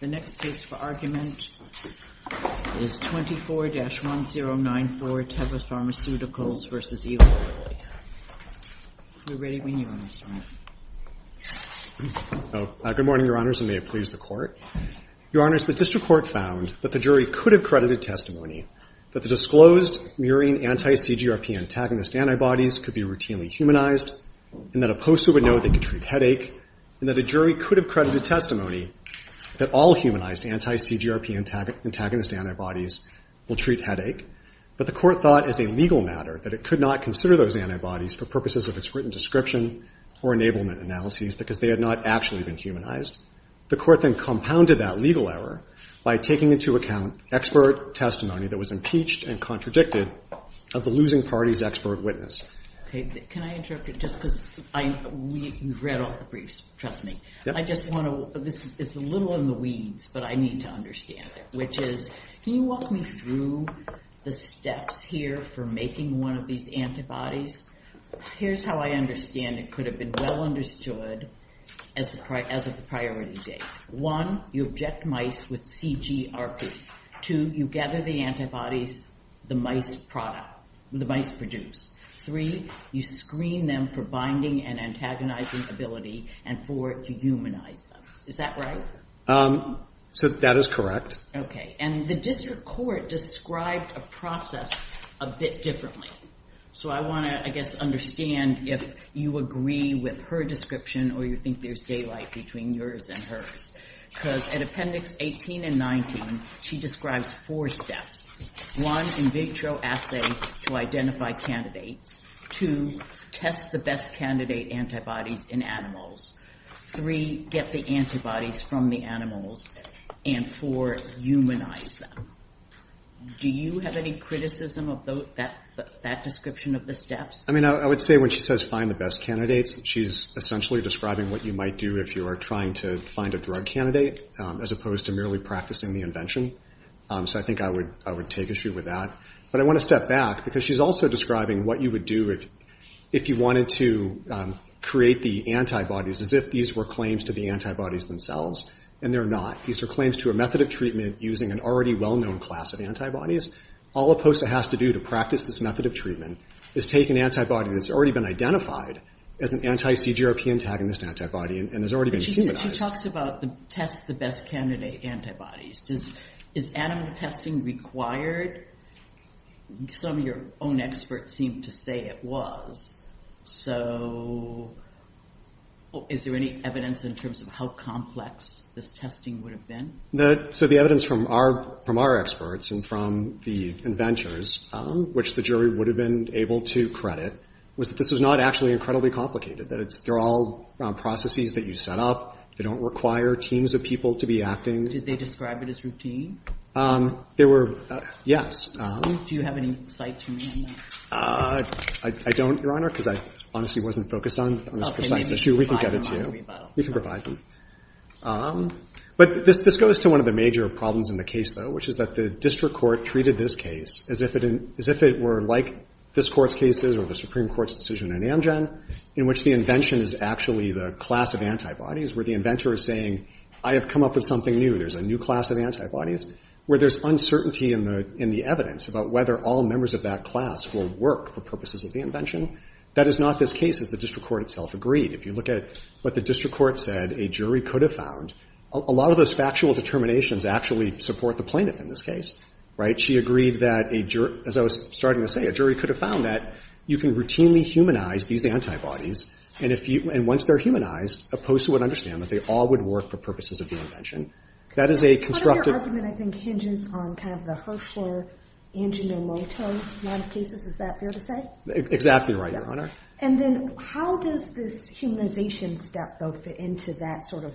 The next case for argument is 24-1094, Teva Pharmaceuticals v. Eli Lilly. We're ready when you are, Mr. Wright. Good morning, Your Honors, and may it please the Court. Your Honors, the District Court found that the jury could have credited testimony that the disclosed murine anti-CGRP antagonist antibodies could be routinely humanized, and that a poster would know they could treat headache, and that a jury could have credited testimony that all humanized anti-CGRP antagonist antibodies will treat headache, but the Court thought as a legal matter that it could not consider those antibodies for purposes of its written description or enablement analyses because they had not actually been humanized. The Court then compounded that legal error by taking into account expert testimony that was impeached and contradicted of the losing party's expert witness. Okay, can I interrupt you just because I read all the briefs, trust me. I just want to, this is a little in the weeds, but I need to understand it, which is, can you walk me through the steps here for making one of these antibodies? Here's how I understand it could have been well understood as of the priority date. One, you object mice with CGRP. Two, you gather the antibodies the mice produce. Three, you screen them for binding and antagonizing ability. And four, you humanize them. Is that right? So that is correct. Okay, and the District Court described a process a bit differently. So I want to, I guess, understand if you agree with her description or you think there's daylight between yours and hers. Because at Appendix 18 and 19, she describes four steps. One, in vitro assay to identify candidates. Two, test the best candidate antibodies in animals. Three, get the antibodies from the animals. And four, humanize them. Do you have any criticism of that description of the steps? I mean, I would say when she says find the best candidates, she's essentially describing what you might do if you are trying to find a drug candidate as opposed to merely practicing the invention. So I think I would take issue with that. But I want to step back because she's also describing what you would do if you wanted to create the antibodies as if these were claims to the antibodies themselves. And they're not. These are claims to a method of treatment using an already well-known class of antibodies. All a POSA has to do to practice this method of treatment is take an antibody that's already been identified as an anti-CGRP antagonist antibody and has already been humanized. She talks about test the best candidate antibodies. Is animal testing required? Some of your own experts seem to say it was. So is there any evidence in terms of how complex this testing would have been? So the evidence from our experts and from the inventors, which the jury would have been able to credit, was that this was not actually incredibly complicated. They're all processes that you set up. They don't require teams of people to be acting. Did they describe it as routine? Yes. Do you have any sites for me on that? I don't, Your Honor, because I honestly wasn't focused on this precise issue. We can get it to you. We can provide them. But this goes to one of the major problems in the case, though, which is that the district court treated this case as if it were like this court's cases or the Supreme Court's decision in Amgen in which the invention is actually the class of antibodies where the inventor is saying, I have come up with something new. There's a new class of antibodies where there's uncertainty in the evidence about whether all members of that class will work for purposes of the invention. That is not this case, as the district court itself agreed. If you look at what the district court said a jury could have found, a lot of those factual determinations actually support the plaintiff in this case, right? She agreed that, as I was starting to say, a jury could have found that you can routinely humanize these antibodies, and once they're humanized, a poster would understand that they all would work for purposes of the invention. That is a constructive— Part of your argument, I think, hinges on kind of the Hirschler-Anginomoto line of cases. Is that fair to say? Exactly right, Your Honor. And then how does this humanization step, though, fit into that sort of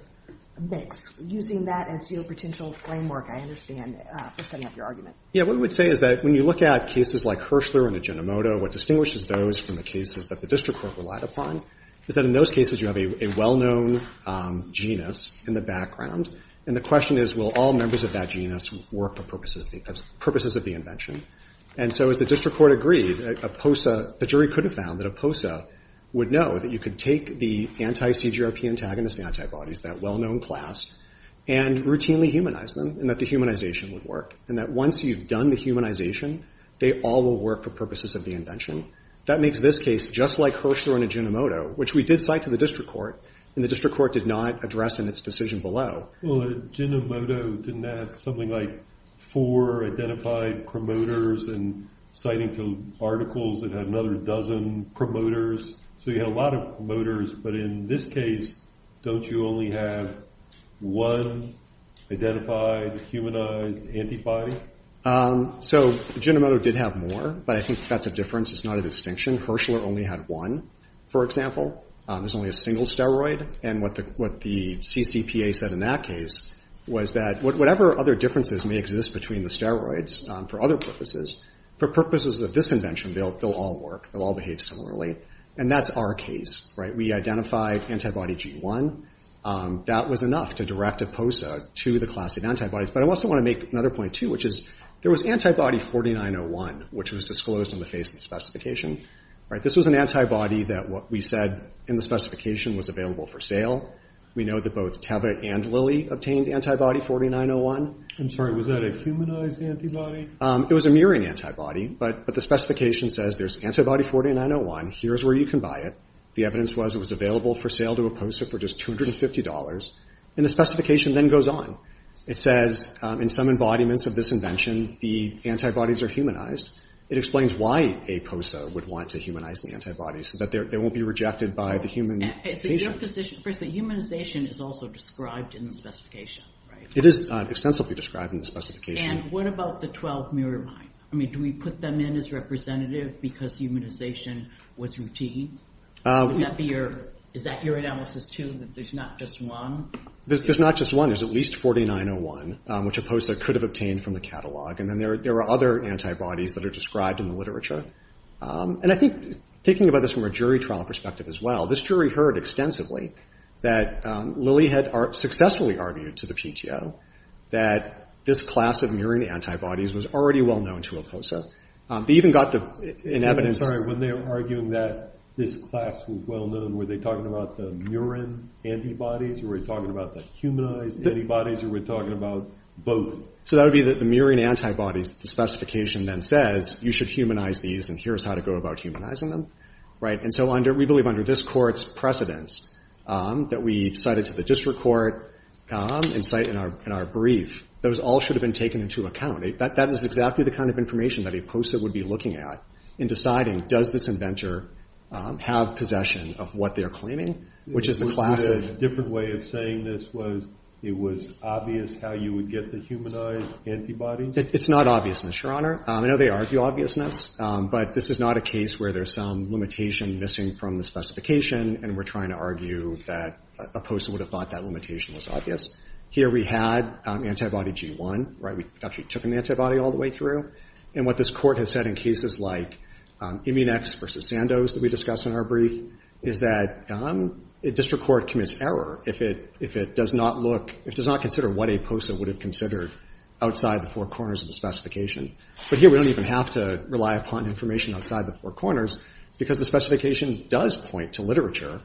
mix, using that as your potential framework, I understand, for setting up your argument? Yeah, what we would say is that when you look at cases like Hirschler-Anginomoto, what distinguishes those from the cases that the district court relied upon is that in those cases you have a well-known genus in the background, and the question is, will all members of that genus work for purposes of the invention? And so, as the district court agreed, a POSA— the jury could have found that a POSA would know that you could take the anti-CGRP antagonist antibodies, that well-known class, and routinely humanize them, and that the humanization would work, and that once you've done the humanization, they all will work for purposes of the invention. That makes this case just like Hirschler-Anginomoto, which we did cite to the district court, and the district court did not address in its decision below. Well, Anginomoto didn't have something like four identified promoters, and citing to articles that had another dozen promoters, so you had a lot of promoters, but in this case, don't you only have one identified, humanized antibody? So, Anginomoto did have more, but I think that's a difference, it's not a distinction. Hirschler only had one, for example. There's only a single steroid, and what the CCPA said in that case was that whatever other differences may exist between the steroids, for other purposes, for purposes of this invention, they'll all work, they'll all behave similarly. And that's our case, right? We identified antibody G1, that was enough to direct EPOSA to the class of antibodies. But I also want to make another point, too, which is, there was antibody 4901, which was disclosed in the face of the specification, right? This was an antibody that what we said in the specification was available for sale. We know that both Teva and Lily obtained antibody 4901. I'm sorry, was that a humanized antibody? It was a murine antibody, but the specification says there's antibody 4901, here's where you can buy it. The evidence was it was available for sale to EPOSA for just $250, and the specification then goes on. It says, in some embodiments of this invention, the antibodies are humanized. It explains why EPOSA would want to humanize the antibodies, so that they won't be rejected by the human patient. So your position, first, the humanization is also described in the specification, right? It is extensively described in the specification. And what about the 12 murine? I mean, do we put them in as representative because humanization was routine? Would that be your, is that your analysis, too, that there's not just one? There's not just one. There's at least 4901, which EPOSA could have obtained from the catalog. And then there are other antibodies that are described in the literature. And I think, thinking about this from a jury trial perspective as well, this jury heard extensively that Lily had successfully argued to the PTO that this class of murine antibodies was already well-known to EPOSA. They even got the evidence... I'm sorry, when they were arguing that this class was well-known, were they talking about the murine antibodies? Were they talking about the humanized antibodies? Or were they talking about both? So that would be the murine antibodies, the specification then says, you should humanize these, and here's how to go about humanizing them, right? And so under, we believe under this court's precedence, that we've cited to the district court, in our brief, those all should have been taken into account. That is exactly the kind of information that EPOSA would be looking at in deciding, does this inventor have possession of what they're claiming, which is the class of... A different way of saying this was, it was obvious how you would get the humanized antibodies? It's not obvious, Mr. Honor. I know they argue obviousness, but this is not a case where there's some limitation missing from the specification, and we're trying to argue that EPOSA would have thought that limitation was obvious. Here we had antibody G1, right? We actually took an antibody all the way through. And what this court has said in cases like Immunex versus Sandoz that we discussed in our brief, is that a district court commits error if it does not look, if it does not consider what EPOSA would have considered outside the four corners of the specification. But here we don't even have to rely upon information outside the four corners, because the specification does point to literature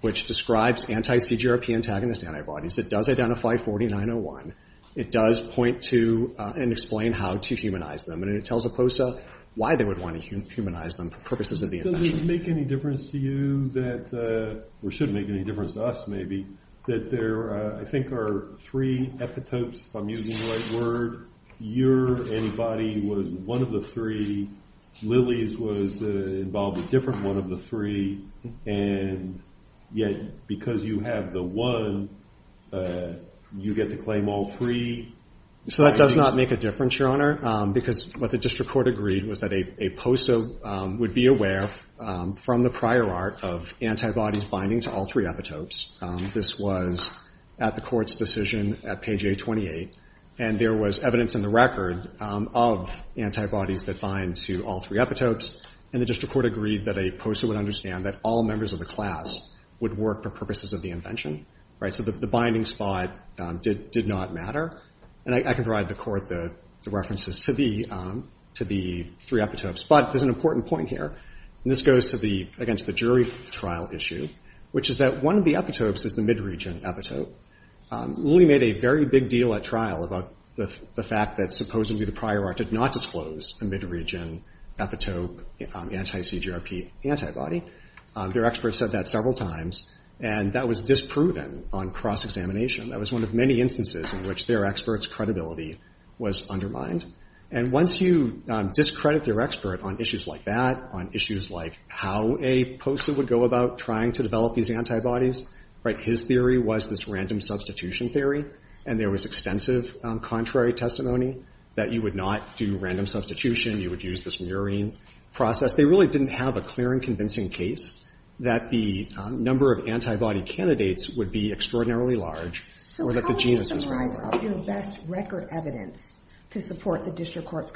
which describes anti-CGRP antagonist antibodies. It does identify 4901. It does point to and explain how to humanize them, and it tells EPOSA why they would want to humanize them for purposes of the invention. Does it make any difference to you that, or should make any difference to us maybe, that there I think are three epitopes, if I'm using the right word, your antibody was one of the three, Lilly's was involved with a different one of the three, and yet because you have the one, you get to claim all three? So that does not make a difference, Your Honor, because what the district court agreed was that EPOSA would be aware from the prior art of antibodies binding to all three epitopes. This was at the court's decision at page A28. And there was evidence in the record of antibodies that bind to all three epitopes, and the district court agreed that EPOSA would understand that all members of the class would work for purposes of the invention. So the binding spot did not matter. And I can provide the court the references to the three epitopes. But there's an important point here, and this goes again to the jury trial issue, which is that one of the epitopes is the mid-region epitope. Lilly made a very big deal at trial about the fact that supposedly the prior art did not disclose a mid-region epitope anti-CGRP antibody. Their expert said that several times, and that was disproven on cross-examination. That was one of many instances in which their expert's credibility was undermined. And once you discredit their expert on issues like that, on issues like how EPOSA would go about trying to develop these antibodies, right, his theory was this random substitution theory. And there was extensive contrary testimony that you would not do random substitution, you would use this murine process. They really didn't have a clear and convincing case that the number of antibody candidates would be extraordinarily large, or that the genes would be extremely large. So this would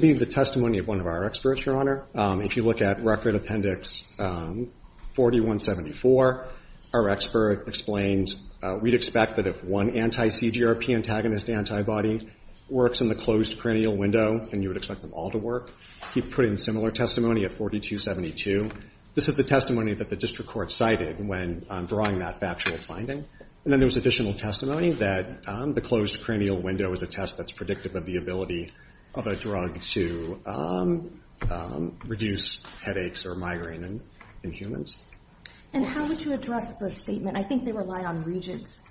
be the testimony of one of our experts, Your Honor. If you look at Record Appendix 4174, our expert explained we'd expect that if one anti-CGRP antagonist antibody works in the closed perennial window, then you would expect them all to work. He put in similar testimony at 4272. This is the testimony that the district court cited when drawing that factual finding. And then there was additional testimony that the closed perennial window is a test that's predictive of the ability of a drug to reduce headaches or migraine in humans. And how would you address the statement, I think they rely on regents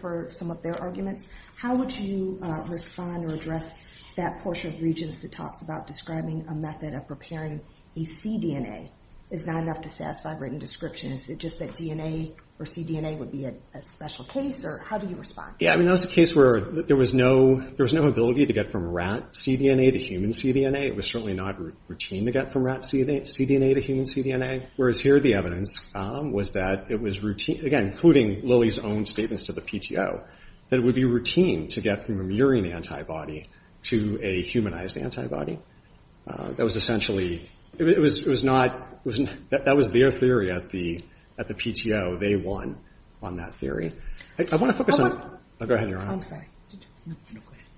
for some of their arguments, how would you respond or address that portion of regents that talks about describing a method of preparing a cDNA is not enough to satisfy a written description? Is it just that DNA or cDNA would be a special case, or how do you respond? Yeah, I mean that was a case where there was no ability to get from rat cDNA to human cDNA. It was certainly not routine to get from rat cDNA to human cDNA. Whereas here the evidence was that it was routine, again including Lilly's own statements to the PTO, that it would be routine to get from a murine antibody to a humanized antibody. That was essentially, it was not, that was their theory at the PTO. They won on that theory. I want to focus on, go ahead Your Honor.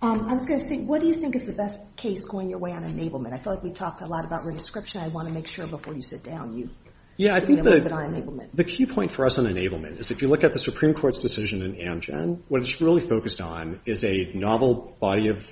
I was going to say, what do you think is the best case going your way on enablement? I feel like we talked a lot about re-description. I want to make sure before you sit down, you. Yeah, I think the key point for us on enablement is if you look at the Supreme Court's decision in Amgen, what it's really focused on is a novel body of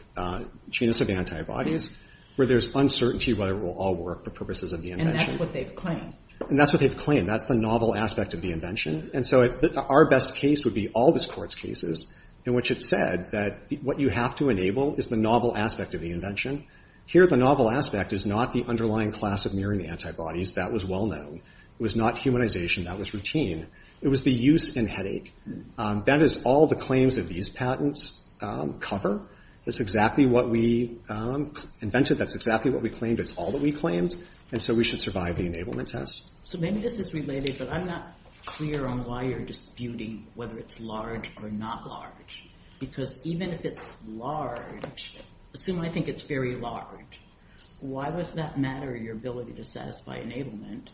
genus of antibodies, where there's uncertainty whether it will all work for purposes of the invention. And that's what they've claimed. And that's what they've claimed. That's the novel aspect of the invention. And so our best case would be all this Court's cases in which it said that what you have to enable is the novel aspect of the invention. Here the novel aspect is not the underlying class of murine antibodies. That was well known. It was not humanization. That was routine. It was the use and headache. That is all the claims of these patents cover. That's exactly what we invented. That's exactly what we claimed. It's all that we claimed. And so we should survive the enablement test. So maybe this is related, but I'm not clear on why you're disputing whether it's large or not large. Because even if it's large, assuming I think it's very large, why does that matter, your ability to satisfy enablement,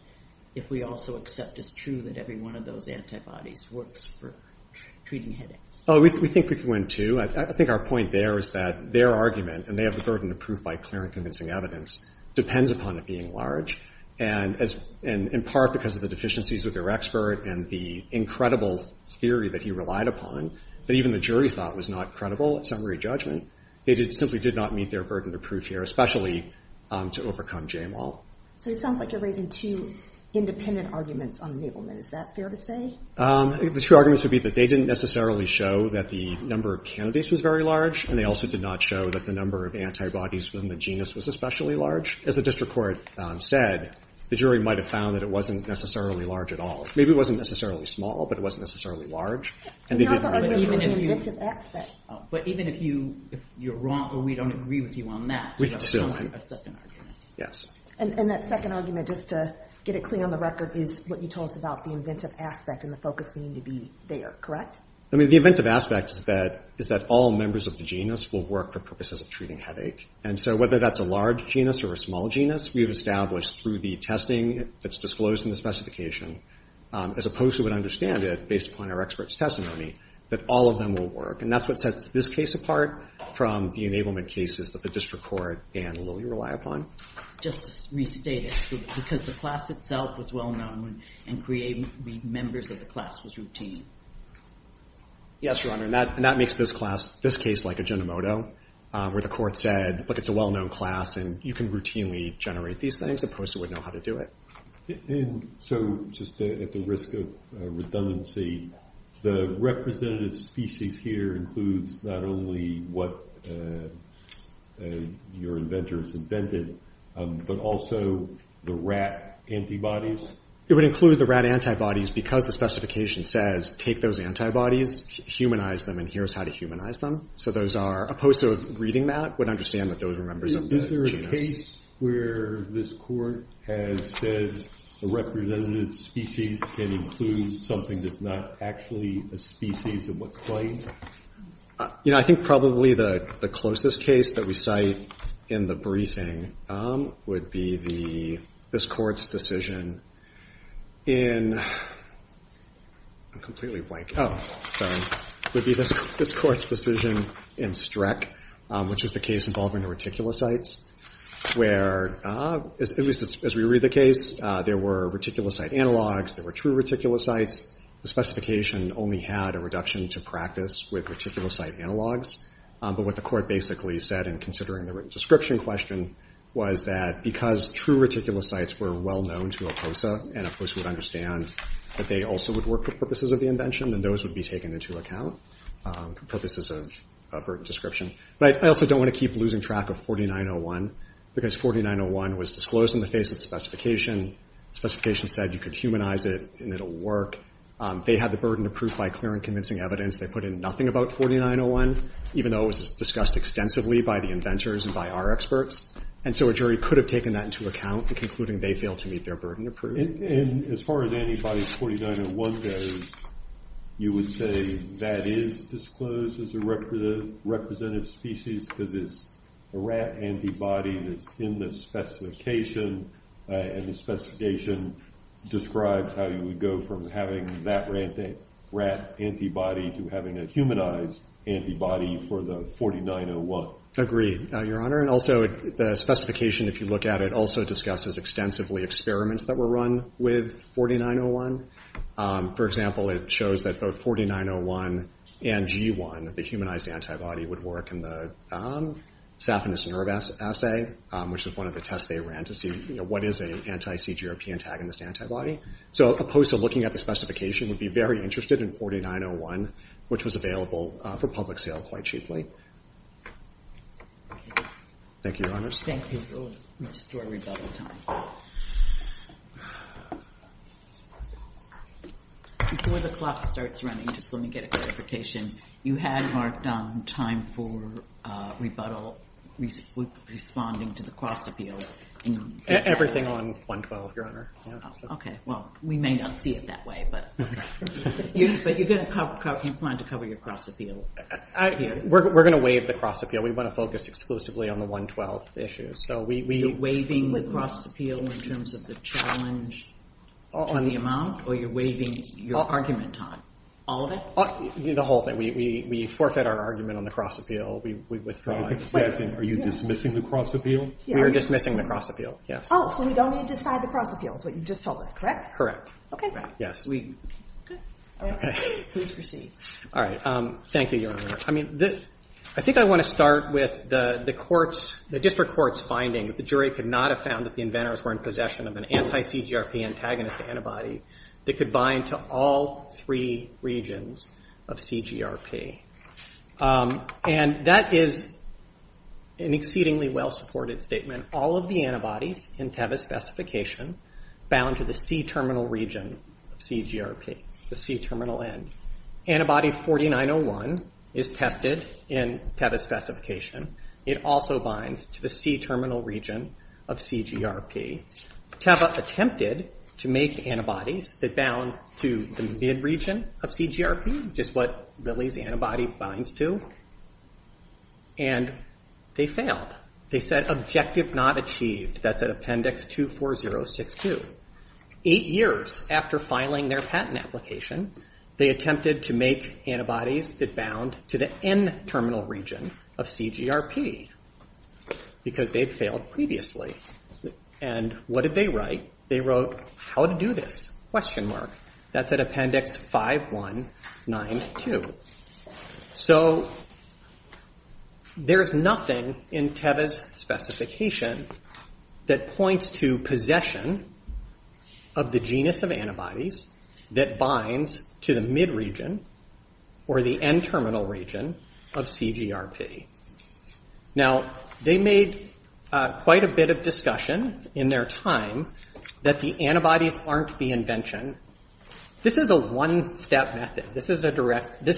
if we also accept it's true that every one of those antibodies works for treating headaches? We think we can win too. I think our point there is that their argument, and they have the burden to prove by clear and convincing evidence, depends upon it being large. And in part because of the deficiencies with their expert and the incredible theory that he relied upon, that even the jury thought was not credible at summary judgment, they simply did not meet their burden to prove here, especially to overcome JMOL. So it sounds like you're raising two independent arguments on enablement. Is that fair to say? The two arguments would be that they didn't necessarily show that the number of candidates was very large, and they also did not show that the number of antibodies within the genus was especially large. As the district court said, the jury might have found that it wasn't necessarily large at all. Maybe it wasn't necessarily small, but it wasn't necessarily large. But even if you're wrong or we don't agree with you on that, we have a second argument. Yes. And that second argument, just to get it clear on the record, is what you told us about the inventive aspect and the focus needing to be there, correct? The inventive aspect is that all members of the genus will work for purposes of treating headache. And so whether that's a large genus or a small genus, we've established through the testing that's disclosed in the specification, as opposed to what I understand it, based upon our expert's testimony, that all of them will work. And that's what sets this case apart from the enablement cases that the district court and Lilly rely upon. Just to restate it, because the class itself was well-known and creating members of the class was routine. Yes, Your Honor. And that makes this case like a genomoto, where the court said, look, it's a well-known class and you can routinely generate these things, as opposed to it wouldn't know how to do it. So just at the risk of redundancy, the representative species here includes not only what your inventor has invented, but also the rat antibodies? It would include the rat antibodies because the specification says take those antibodies, humanize them, and here's how to humanize them. So those are, opposed to reading that, would understand that those were members of the genus. Is there a case where this court has said the representative species can include something that's not actually a species and what's claimed? You know, I think probably the closest case that we cite in the briefing would be this court's decision in I'm completely blank. Oh, sorry. Would be this court's decision in Streck, which is the case involving the reticulocytes, where, at least as we read the case, there were reticulocyte analogs, there were true reticulocytes. The specification only had a reduction to practice with reticulocyte analogs, but what the court basically said in considering the written description question was that because true reticulocytes were well-known to and, of course, would understand that they also would work for purposes of the invention, then those would be taken into account for purposes of written description. But I also don't want to keep losing track of 4901 because 4901 was disclosed in the face of the specification. The specification said you could humanize it and it'll work. They had the burden of proof by clear and convincing evidence. They put in nothing about 4901, even though it was discussed extensively by the inventors and by our experts, and so a jury could have taken that into account concluding they failed to meet their burden of proof. And as far as anybody's 4901 goes, you would say that is disclosed as a representative species because it's a rat antibody that's in the specification, and the specification describes how you would go from having that rat antibody to having a humanized antibody for the 4901. Agreed, Your Honor, and also the specification, if you look at it, also discusses extensively experiments that were run with 4901. For example, it shows that both 4901 and G1, the humanized antibody, would work in the saphenous nerve assay, which is one of the tests they ran to see what is an anti-CGRP antagonist antibody. So a POSA looking at the specification would be very interested in 4901, which was available for public sale quite cheaply. Thank you, Your Honors. Let's just do our rebuttal time. Before the clock starts running, just let me get a clarification. You had marked on time for rebuttal, responding to the cross-appeal. Everything on 1-12, Your Honor. Okay, well, we may not see it that way, but you plan to cover your cross-appeal. We're going to waive the cross-appeal. We want to focus exclusively on the 1-12 issue. You're waiving the cross-appeal in terms of the challenge to the amount, or you're waiving your argument on all of it? The whole thing. We forfeit our argument on the cross-appeal. We withdraw it. Are you dismissing the cross-appeal? We are dismissing the cross-appeal, yes. Oh, so we don't need to decide the cross-appeal is what you just told us, correct? Correct. Okay. Please proceed. Thank you, Your Honor. I think I want to start with the District Court's finding that the jury could not have found that the inventors were in possession of an anti-CGRP antagonist antibody that could bind to all three regions of CGRP. And that is an exceedingly well supported statement. All of the antibodies in Tevis specification bound to the C-terminal region of CGRP, the C-terminal end. Antibody 4901 is tested in Tevis specification. It also binds to the C-terminal region of CGRP. Teva attempted to make antibodies that bound to the mid-region of CGRP, which is what Lilly's antibody binds to, and they failed. They said, objective not achieved. That's at appendix 24062. Eight years after filing their patent application, they attempted to make antibodies that bound to the N-terminal region of CGRP because they had failed previously. And what did they write? They wrote, how to do this? That's at appendix 5192. So there's nothing in Tevis specification that points to possession of the genus of antibodies that binds to the mid-region or the N-terminal region of CGRP. Now, they made quite a bit of discussion in their time that the antibodies aren't the invention. This is a one-step method. This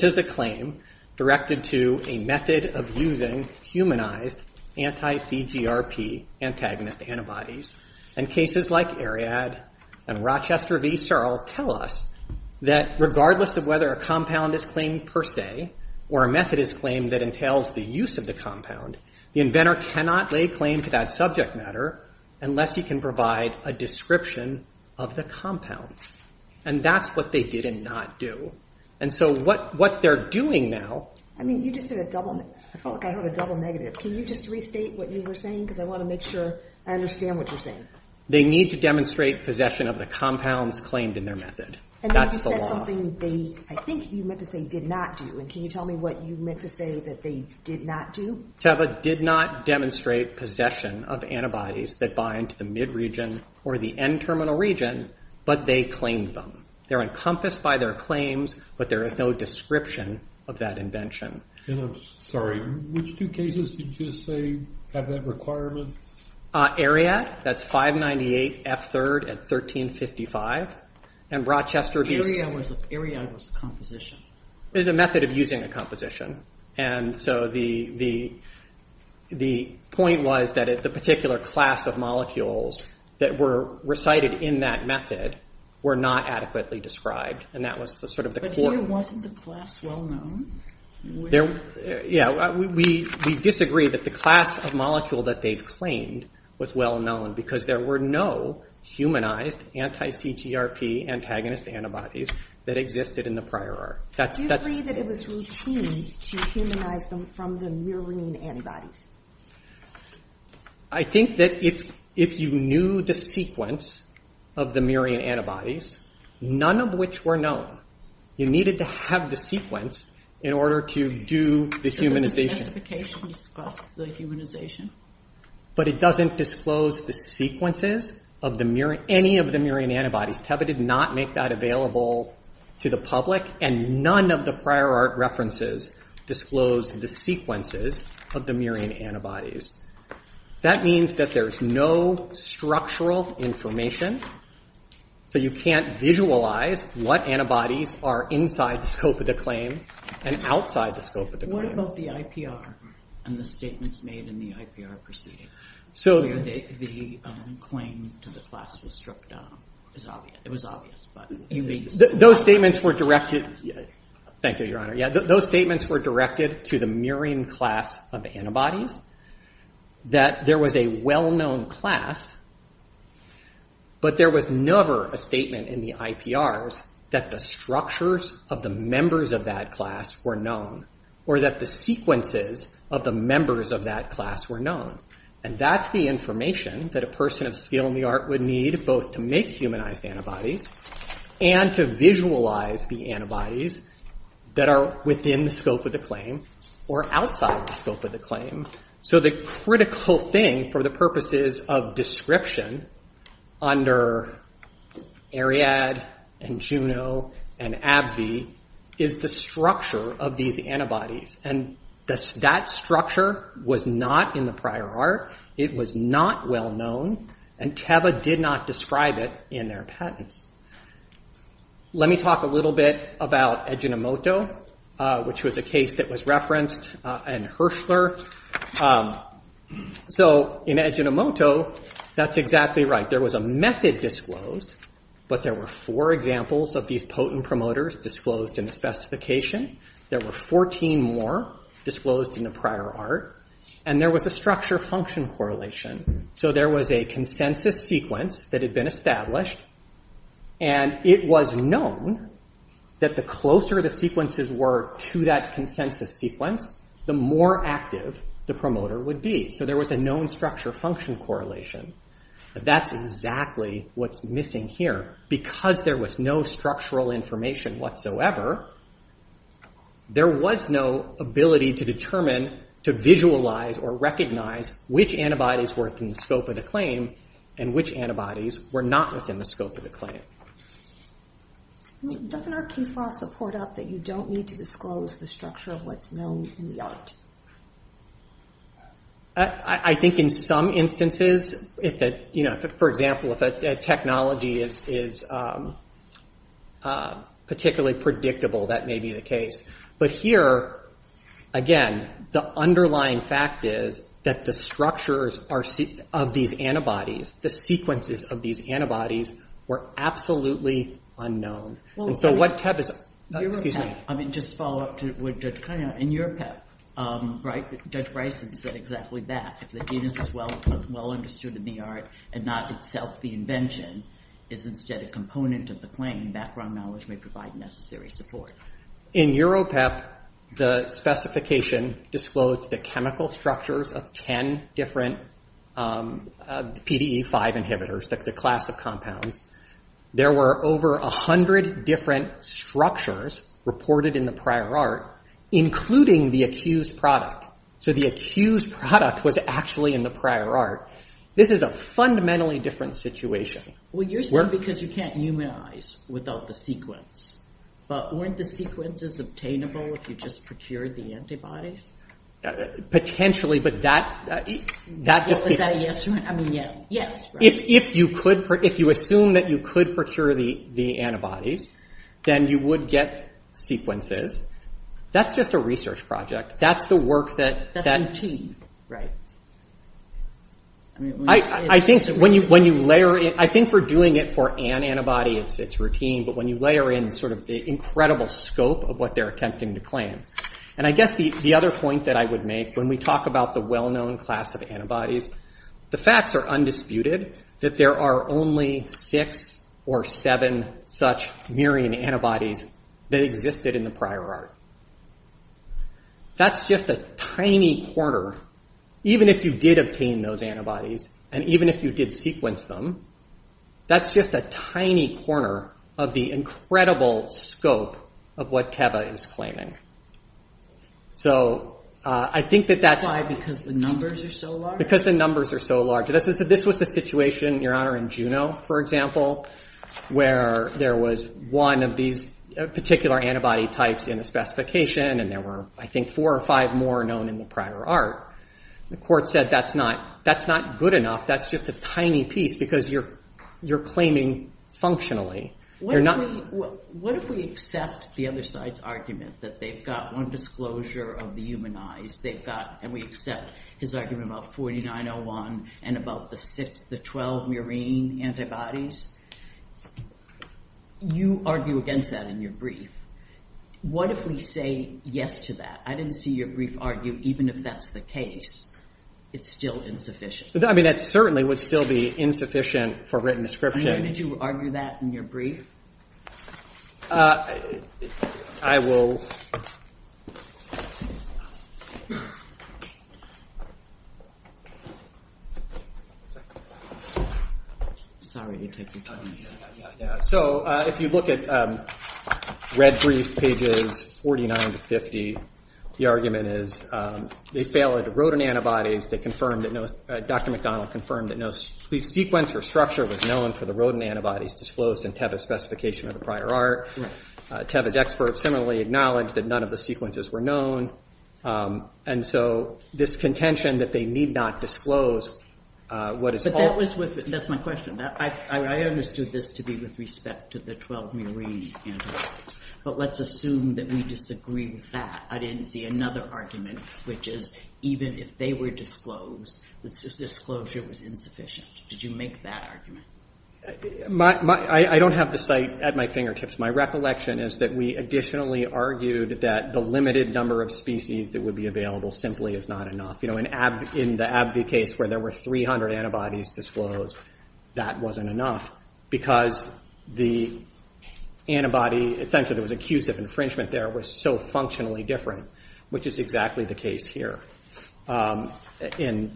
is a claim directed to a method of using humanized anti-CGRP antagonist antibodies. And cases like Ariad and Rochester v. Searle tell us that regardless of whether a compound is claimed per se or a method is claimed that entails the use of the compound, the inventor cannot lay claim to that subject matter unless he can provide a description of the compound. And that's what they did and not do. And so what they're doing now I mean, you just did a double, I felt like I heard a double negative. Can you just restate what you were saying? Because I want to make sure I understand what you're saying. They need to demonstrate possession of the compounds claimed in their method. That's the law. I think you meant to say did not do. And can you tell me what you meant to say that they did not do? Teva did not demonstrate possession of antibodies that bind to the mid-region or the N-terminal region but they claimed them. They're encompassed by their claims but there is no description of that invention. And I'm sorry, which two cases did you say have that requirement? Ariad that's 598F3 at 1355 and Rochester v. Searle. Ariad was a composition. It was a method of using a composition. And so the point was that the particular class of molecules that were recited in that method were not adequately described and that was sort of the core. But here wasn't the class well known? Yeah, we disagree that the class of molecule that they claimed was well known because there were no humanized anti-CGRP antagonist antibodies that existed in the prior art. Do you agree that it was routine to humanize them from the murine antibodies? I think that if you knew the sequence of the murine antibodies none of which were known, you needed to have the sequence in order to do the humanization. But it doesn't disclose the sequences of any of the murine antibodies. TEVA did not make that available to the public and none of the prior art references disclosed the sequences of the murine antibodies. That means that there's no structural information so you can't visualize what antibodies are inside the scope of the claim and outside the scope of the claim. What about the IPR and the statements made in the IPR proceeding? The claim to the class was struck down. It was obvious. Those statements were directed to the murine class of antibodies. That there was a well known class but there was never a statement in the IPRs that the structures of the members of that class were known or that the sequences of the members of that class were known. And that's the information that a person of skill in the art would need both to make humanized antibodies and to visualize the antibodies that are within the scope of the claim or outside the scope of the claim. So the critical thing for the purposes of description under Ariad and Juno and AbbVie is the structure of these antibodies. And that structure was not in the prior art. It was not well known and TEVA did not describe it in their patents. Let me talk a little bit about Ejinomoto which was a case that was referenced and Hirschler. So in Ejinomoto that's exactly right. There was a method disclosed but there were four examples of these potent promoters disclosed in the specification. There were 14 more disclosed in the prior art and there was a structure function correlation. So there was a consensus sequence that had been established and it was known that the closer the sequences were to that consensus sequence, the more active the promoter would be. So there was a known structure function correlation. That's exactly what's missing here. Because there was no structural information whatsoever there was no ability to determine to visualize or recognize which antibodies were within the scope of the claim and which antibodies were not within the scope of the claim. Doesn't our case law support up that you don't need to disclose the structure of what's known in the art? I think in some instances for example if a technology is particularly predictable that may be the case. But here again the underlying fact is that the structures of these antibodies, the sequences of these antibodies were absolutely unknown. Just to follow up to what Judge Cunningham said in EuroPEP, Judge Bryson said exactly that. If the genus is well understood in the art and not itself the invention is instead a component of the claim, background knowledge may provide necessary support. In EuroPEP the specification disclosed the chemical structures of 10 different PDE5 inhibitors, the class of compounds. There were over 100 different structures reported in the prior art, including the accused product. So the accused product was actually in the prior art. This is a fundamentally different situation. Well you're saying because you can't humanize without the sequence. But weren't the sequences obtainable if you just procured the antibodies? Potentially but that just... Is that a yes? I mean yes. If you assume that you could procure the antibodies then you would get sequences. That's just a research project. That's the work that... That's routine. I think when you layer I think for doing it for an antibody it's routine but when you layer in the incredible scope of what they're attempting to claim. And I guess the other point that I would make when we talk about the well-known class of antibodies the facts are undisputed that there are only 6 or 7 such murine antibodies that existed in the prior art. That's just a tiny corner, even if you did obtain those antibodies and even if you did sequence them, that's just a tiny corner of the incredible scope of what Teva is claiming. So I think that that's... Why? Because the numbers are so large? Because the numbers are so large. This was the situation Your Honor, in Juno for example, where there was one of these particular antibody types in the specification and there were I think 4 or 5 more known in the prior art. The court said that's not good enough. That's just a tiny piece because you're claiming functionally. What if we accept the other side's argument that they've got one disclosure of the human eyes. They've got, and we accept, his argument about 4901 and about the 6, the 12 murine antibodies. You argue against that in your brief. What if we say yes to that? I didn't see your brief argue even if that's the case, it's still insufficient. I mean that certainly would still be insufficient for written description. And when did you argue that in your brief? I will... Sorry to take your time. So if you look at red brief pages 49 to 50 the argument is they fail at rodent antibodies. They confirmed, Dr. McDonald confirmed that no sequence or structure was known for the rodent antibodies disclosed in Teva's specification of the prior art. Teva's experts similarly acknowledged that none of the sequences were known. And so this contention that they need not disclose... That's my question. I understood this to be with respect to the 12 murine antibodies. But let's assume that we disagree with that. I didn't see another argument which is even if they were disclosed, the disclosure was insufficient. Did you make that argument? I don't have the site at my fingertips. My recollection is that we additionally argued that the limited number of species that would be available simply is not enough. In the AbbVie case where there were 300 antibodies disclosed, that wasn't enough. Because the antibody, essentially there was an infringement there, was so functionally different. Which is exactly the case here. In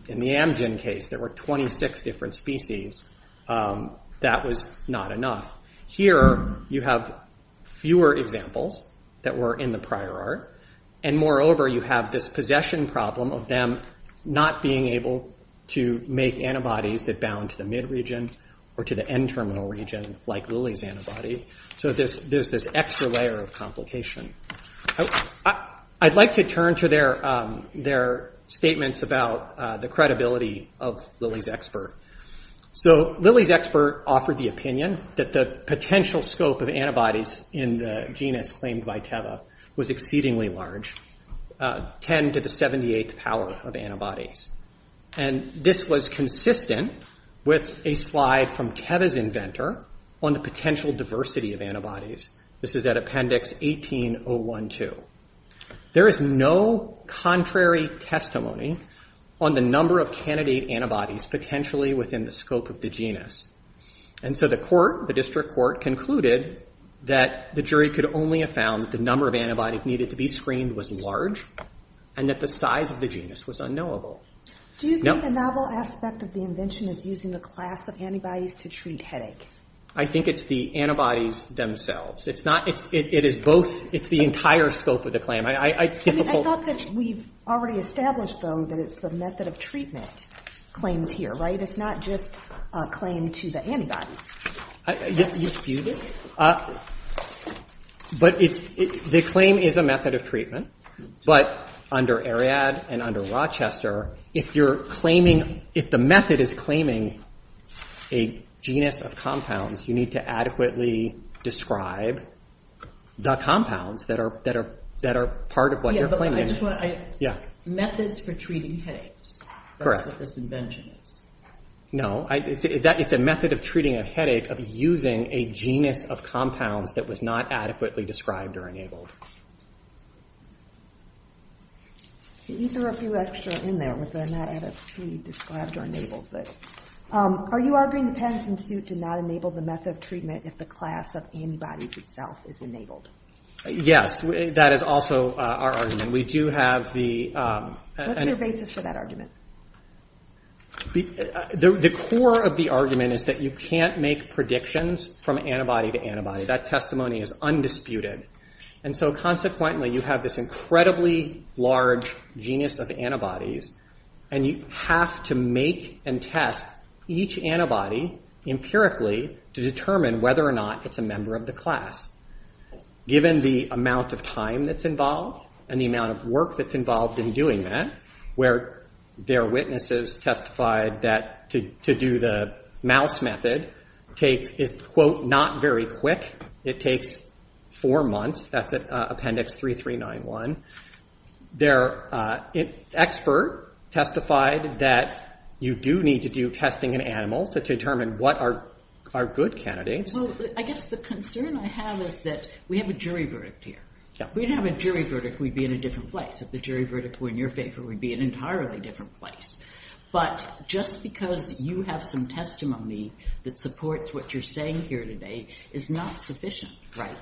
the Amgen case, there were 26 different species. That was not enough. Here, you have fewer examples that were in the prior art. And moreover, you have this possession problem of them not being able to make antibodies that bound to the mid region or to the end terminal region like Lily's antibody. So there's this extra layer of complication. I'd like to turn to their statements about the credibility of Lily's expert. So Lily's expert offered the opinion that the potential scope of antibodies in the genus claimed by Teva was exceedingly large. 10 to the 78th power of antibodies. And this was consistent with a slide from Teva's inventor on the potential diversity of antibodies. This is at Appendix 18012. There is no contrary testimony on the number of candidate antibodies potentially within the scope of the genus. And so the court, the district court, concluded that the jury could only have found that the number of antibodies needed to be screened was large. And that the size of the genus was unknowable. Do you think the novel aspect of the invention is using the class of antibodies to treat headaches? I think it's the antibodies themselves. It's the entire scope of the claim. I thought that we've already established, though, that it's the method of treatment claims here, right? It's not just a claim to the antibodies. The claim is a method of treatment. But under Ariadne and under Rochester, if you're claiming if the method is claiming a genus of compounds you need to adequately describe the compounds that are part of what you're claiming. Methods for treating headaches. That's what this invention is. No. It's a method of treating a headache of using a genus of compounds that was not adequately described or enabled. There are a few extra in there that are not adequately described or enabled. Are you arguing the patent suit did not enable the method of treatment if the class of antibodies itself is enabled? Yes. That is also our argument. What's your basis for that argument? The core of the argument is that you can't make predictions from antibody to antibody. That testimony is undisputed. Consequently, you have this incredibly large genus of antibodies and you have to make and test each antibody empirically to determine whether or not it's a member of the class. Given the amount of time that's involved and the amount of work that's involved in doing that, where their witnesses testified that to do the mouse method is quote, not very quick. It takes four months. That's Appendix 3391. Their expert testified that you do need to do testing on animals to determine what are good candidates. The concern I have is that we have a jury verdict here. If we didn't have a jury verdict, we'd be in a different place. If the jury verdict were in your favor, we'd be in an entirely different place. Just because you have some testimony that supports what you're saying here today is not sufficient.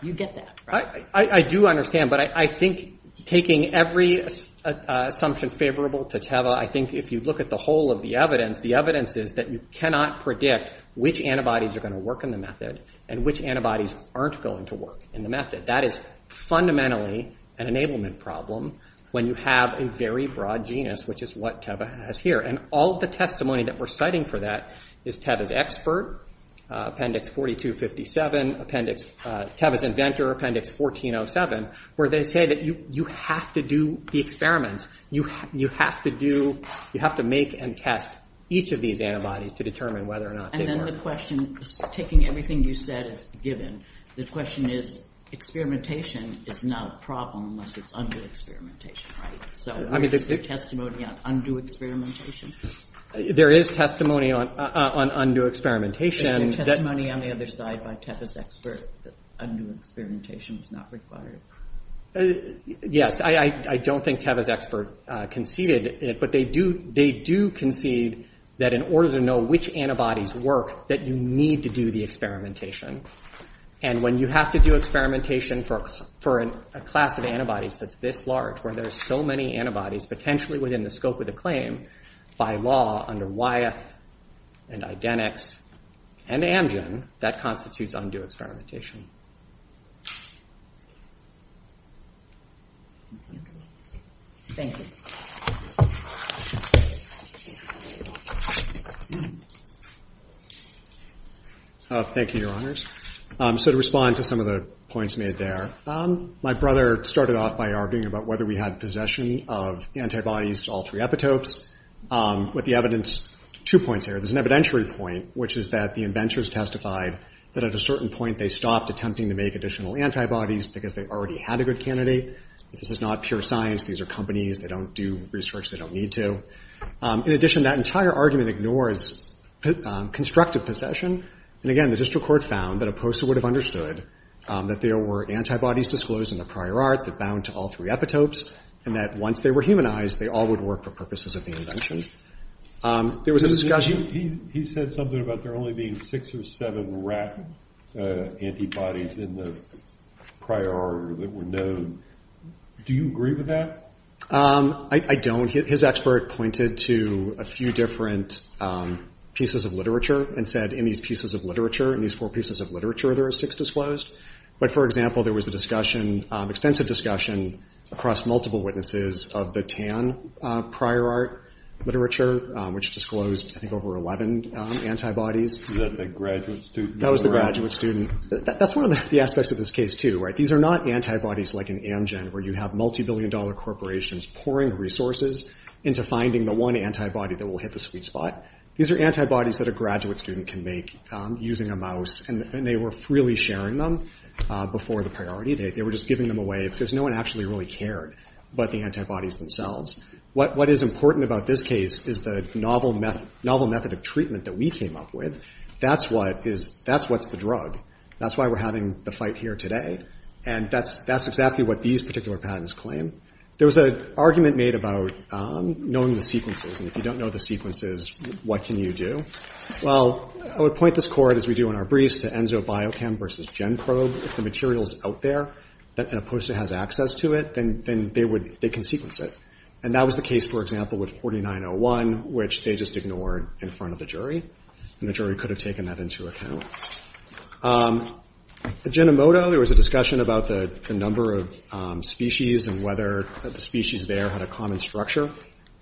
You get that, right? I do understand, but I think taking every assumption favorable to Teva, I think if you look at the whole of the evidence, the evidence is that you cannot predict which antibodies are going to work in the method and which antibodies aren't going to work in the method. That is fundamentally an enablement problem when you have a very broad genus, which is what Teva has here. All the testimony that we're citing for that is Teva's expert, Appendix 4257, Teva's inventor, Appendix 1407, where they say that you have to do the experiments. You have to make and test each of these antibodies to determine whether or not they work. And then the question, taking everything you said is given, the question is, experimentation is not a problem unless it's undue experimentation, right? So is there testimony on undue experimentation? There is testimony on undue experimentation. Is there testimony on the other side by Teva's expert that undue experimentation is not required? Yes, I don't think Teva's expert conceded it, but they do concede that in order to know which antibodies work, that you need to do the experimentation. And when you have to do experimentation for a class of antibodies that's this large, where there's so many antibodies, potentially within the scope of the claim, by law under Wyeth and Idenix and Amgen, that constitutes undue experimentation. Thank you. Thank you, Your Honors. So to respond to some of the points made there, my brother started off by arguing about whether we had possession of antibodies to all three epitopes. With the evidence, two points here. There's an evidentiary point, which is that the inventors testified that at a certain point they stopped attempting to make additional antibodies because they already had a good candidate. This is not pure science. These are companies. They don't do research. They don't need to. In addition, that entire argument ignores constructive possession. And again, the district court found that a poster would have understood that there were antibodies disclosed in the prior art that bound to all three epitopes and that once they were humanized, they all would work for purposes of the invention. There was a discussion. He said something about there only being six or seven rat antibodies in the prior art that were known. Do you agree with that? I don't. His expert pointed to a few different pieces of literature and said in these pieces of literature, in these four pieces of literature, there are six disclosed. But for example, there was a discussion, extensive discussion across multiple witnesses of the TAN prior art literature, which disclosed I think over 11 antibodies. Is that the graduate student? That was the graduate student. That's one of the aspects of this case, too. These are not antibodies like in Amgen where you have multi-billion dollar corporations pouring resources into finding the one antibody that will hit the sweet spot. These are antibodies that a graduate student can make using a mouse. And they were freely sharing them before the priority. They were just giving them away because no one actually really cared about the antibodies themselves. What is important about this case is the novel method of treatment that we came up with. That's what's the drug. That's why we're having the fight here today. And that's exactly what these particular patents claim. There was an argument made about knowing the sequences. And if you don't know the sequences, what can you do? Well, I would point this court, as we do in our briefs, to Enzobiochem versus GenProbe. If the material is out there and a poster has access to it, then they can sequence it. And that was the case, for example, with 4901, which they just ignored in front of the jury. And the jury could have taken that into account. At Jinomoto, there was a discussion about the number of species and whether the species there had a common structure.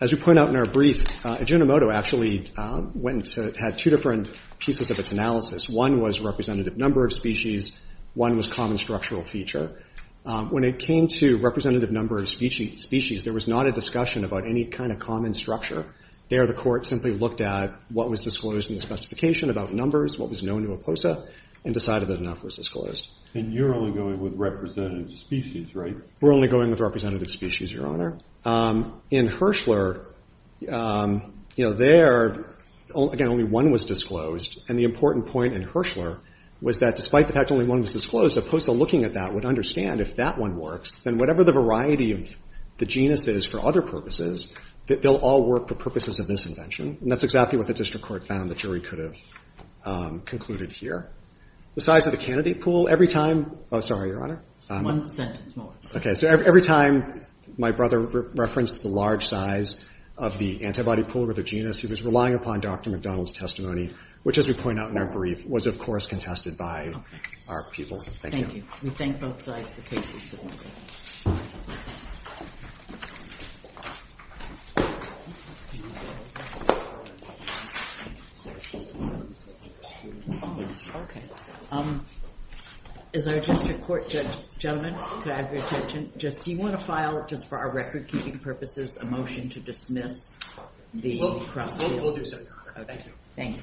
As we point out in our brief, Jinomoto actually had two different pieces of its analysis. One was representative number of species. One was common structural feature. When it came to representative number of species, there was not a discussion about any kind of common structure. There, the court simply looked at what was disclosed in the specification about numbers, what was known to OPOSA, and decided that enough was disclosed. And you're only going with representative species, right? We're only going with representative species, Your Honor. In Hirschler, there, again, only one was disclosed. And the important point in Hirschler was that despite the fact that only one was disclosed, OPOSA, looking at that, would understand if that one works, then whatever the variety of the genus is for other purposes, they'll all work for purposes of this invention. And that's exactly what the district court found. The jury could have concluded here. The size of the candidate pool, every time... Oh, sorry, Your Honor. One sentence more. Okay. So every time my brother referenced the large size of the antibody pool with the genus, he was relying upon Dr. McDonald's testimony, which, as we point out in our brief, was, of course, contested by our people. Thank you. Thank you. We thank both sides. The case is submitted. Is there a district court... Gentlemen, could I have your attention? Do you want to file, just for our record-keeping purposes, a motion to dismiss the cross... We'll do so, Your Honor. Thank you.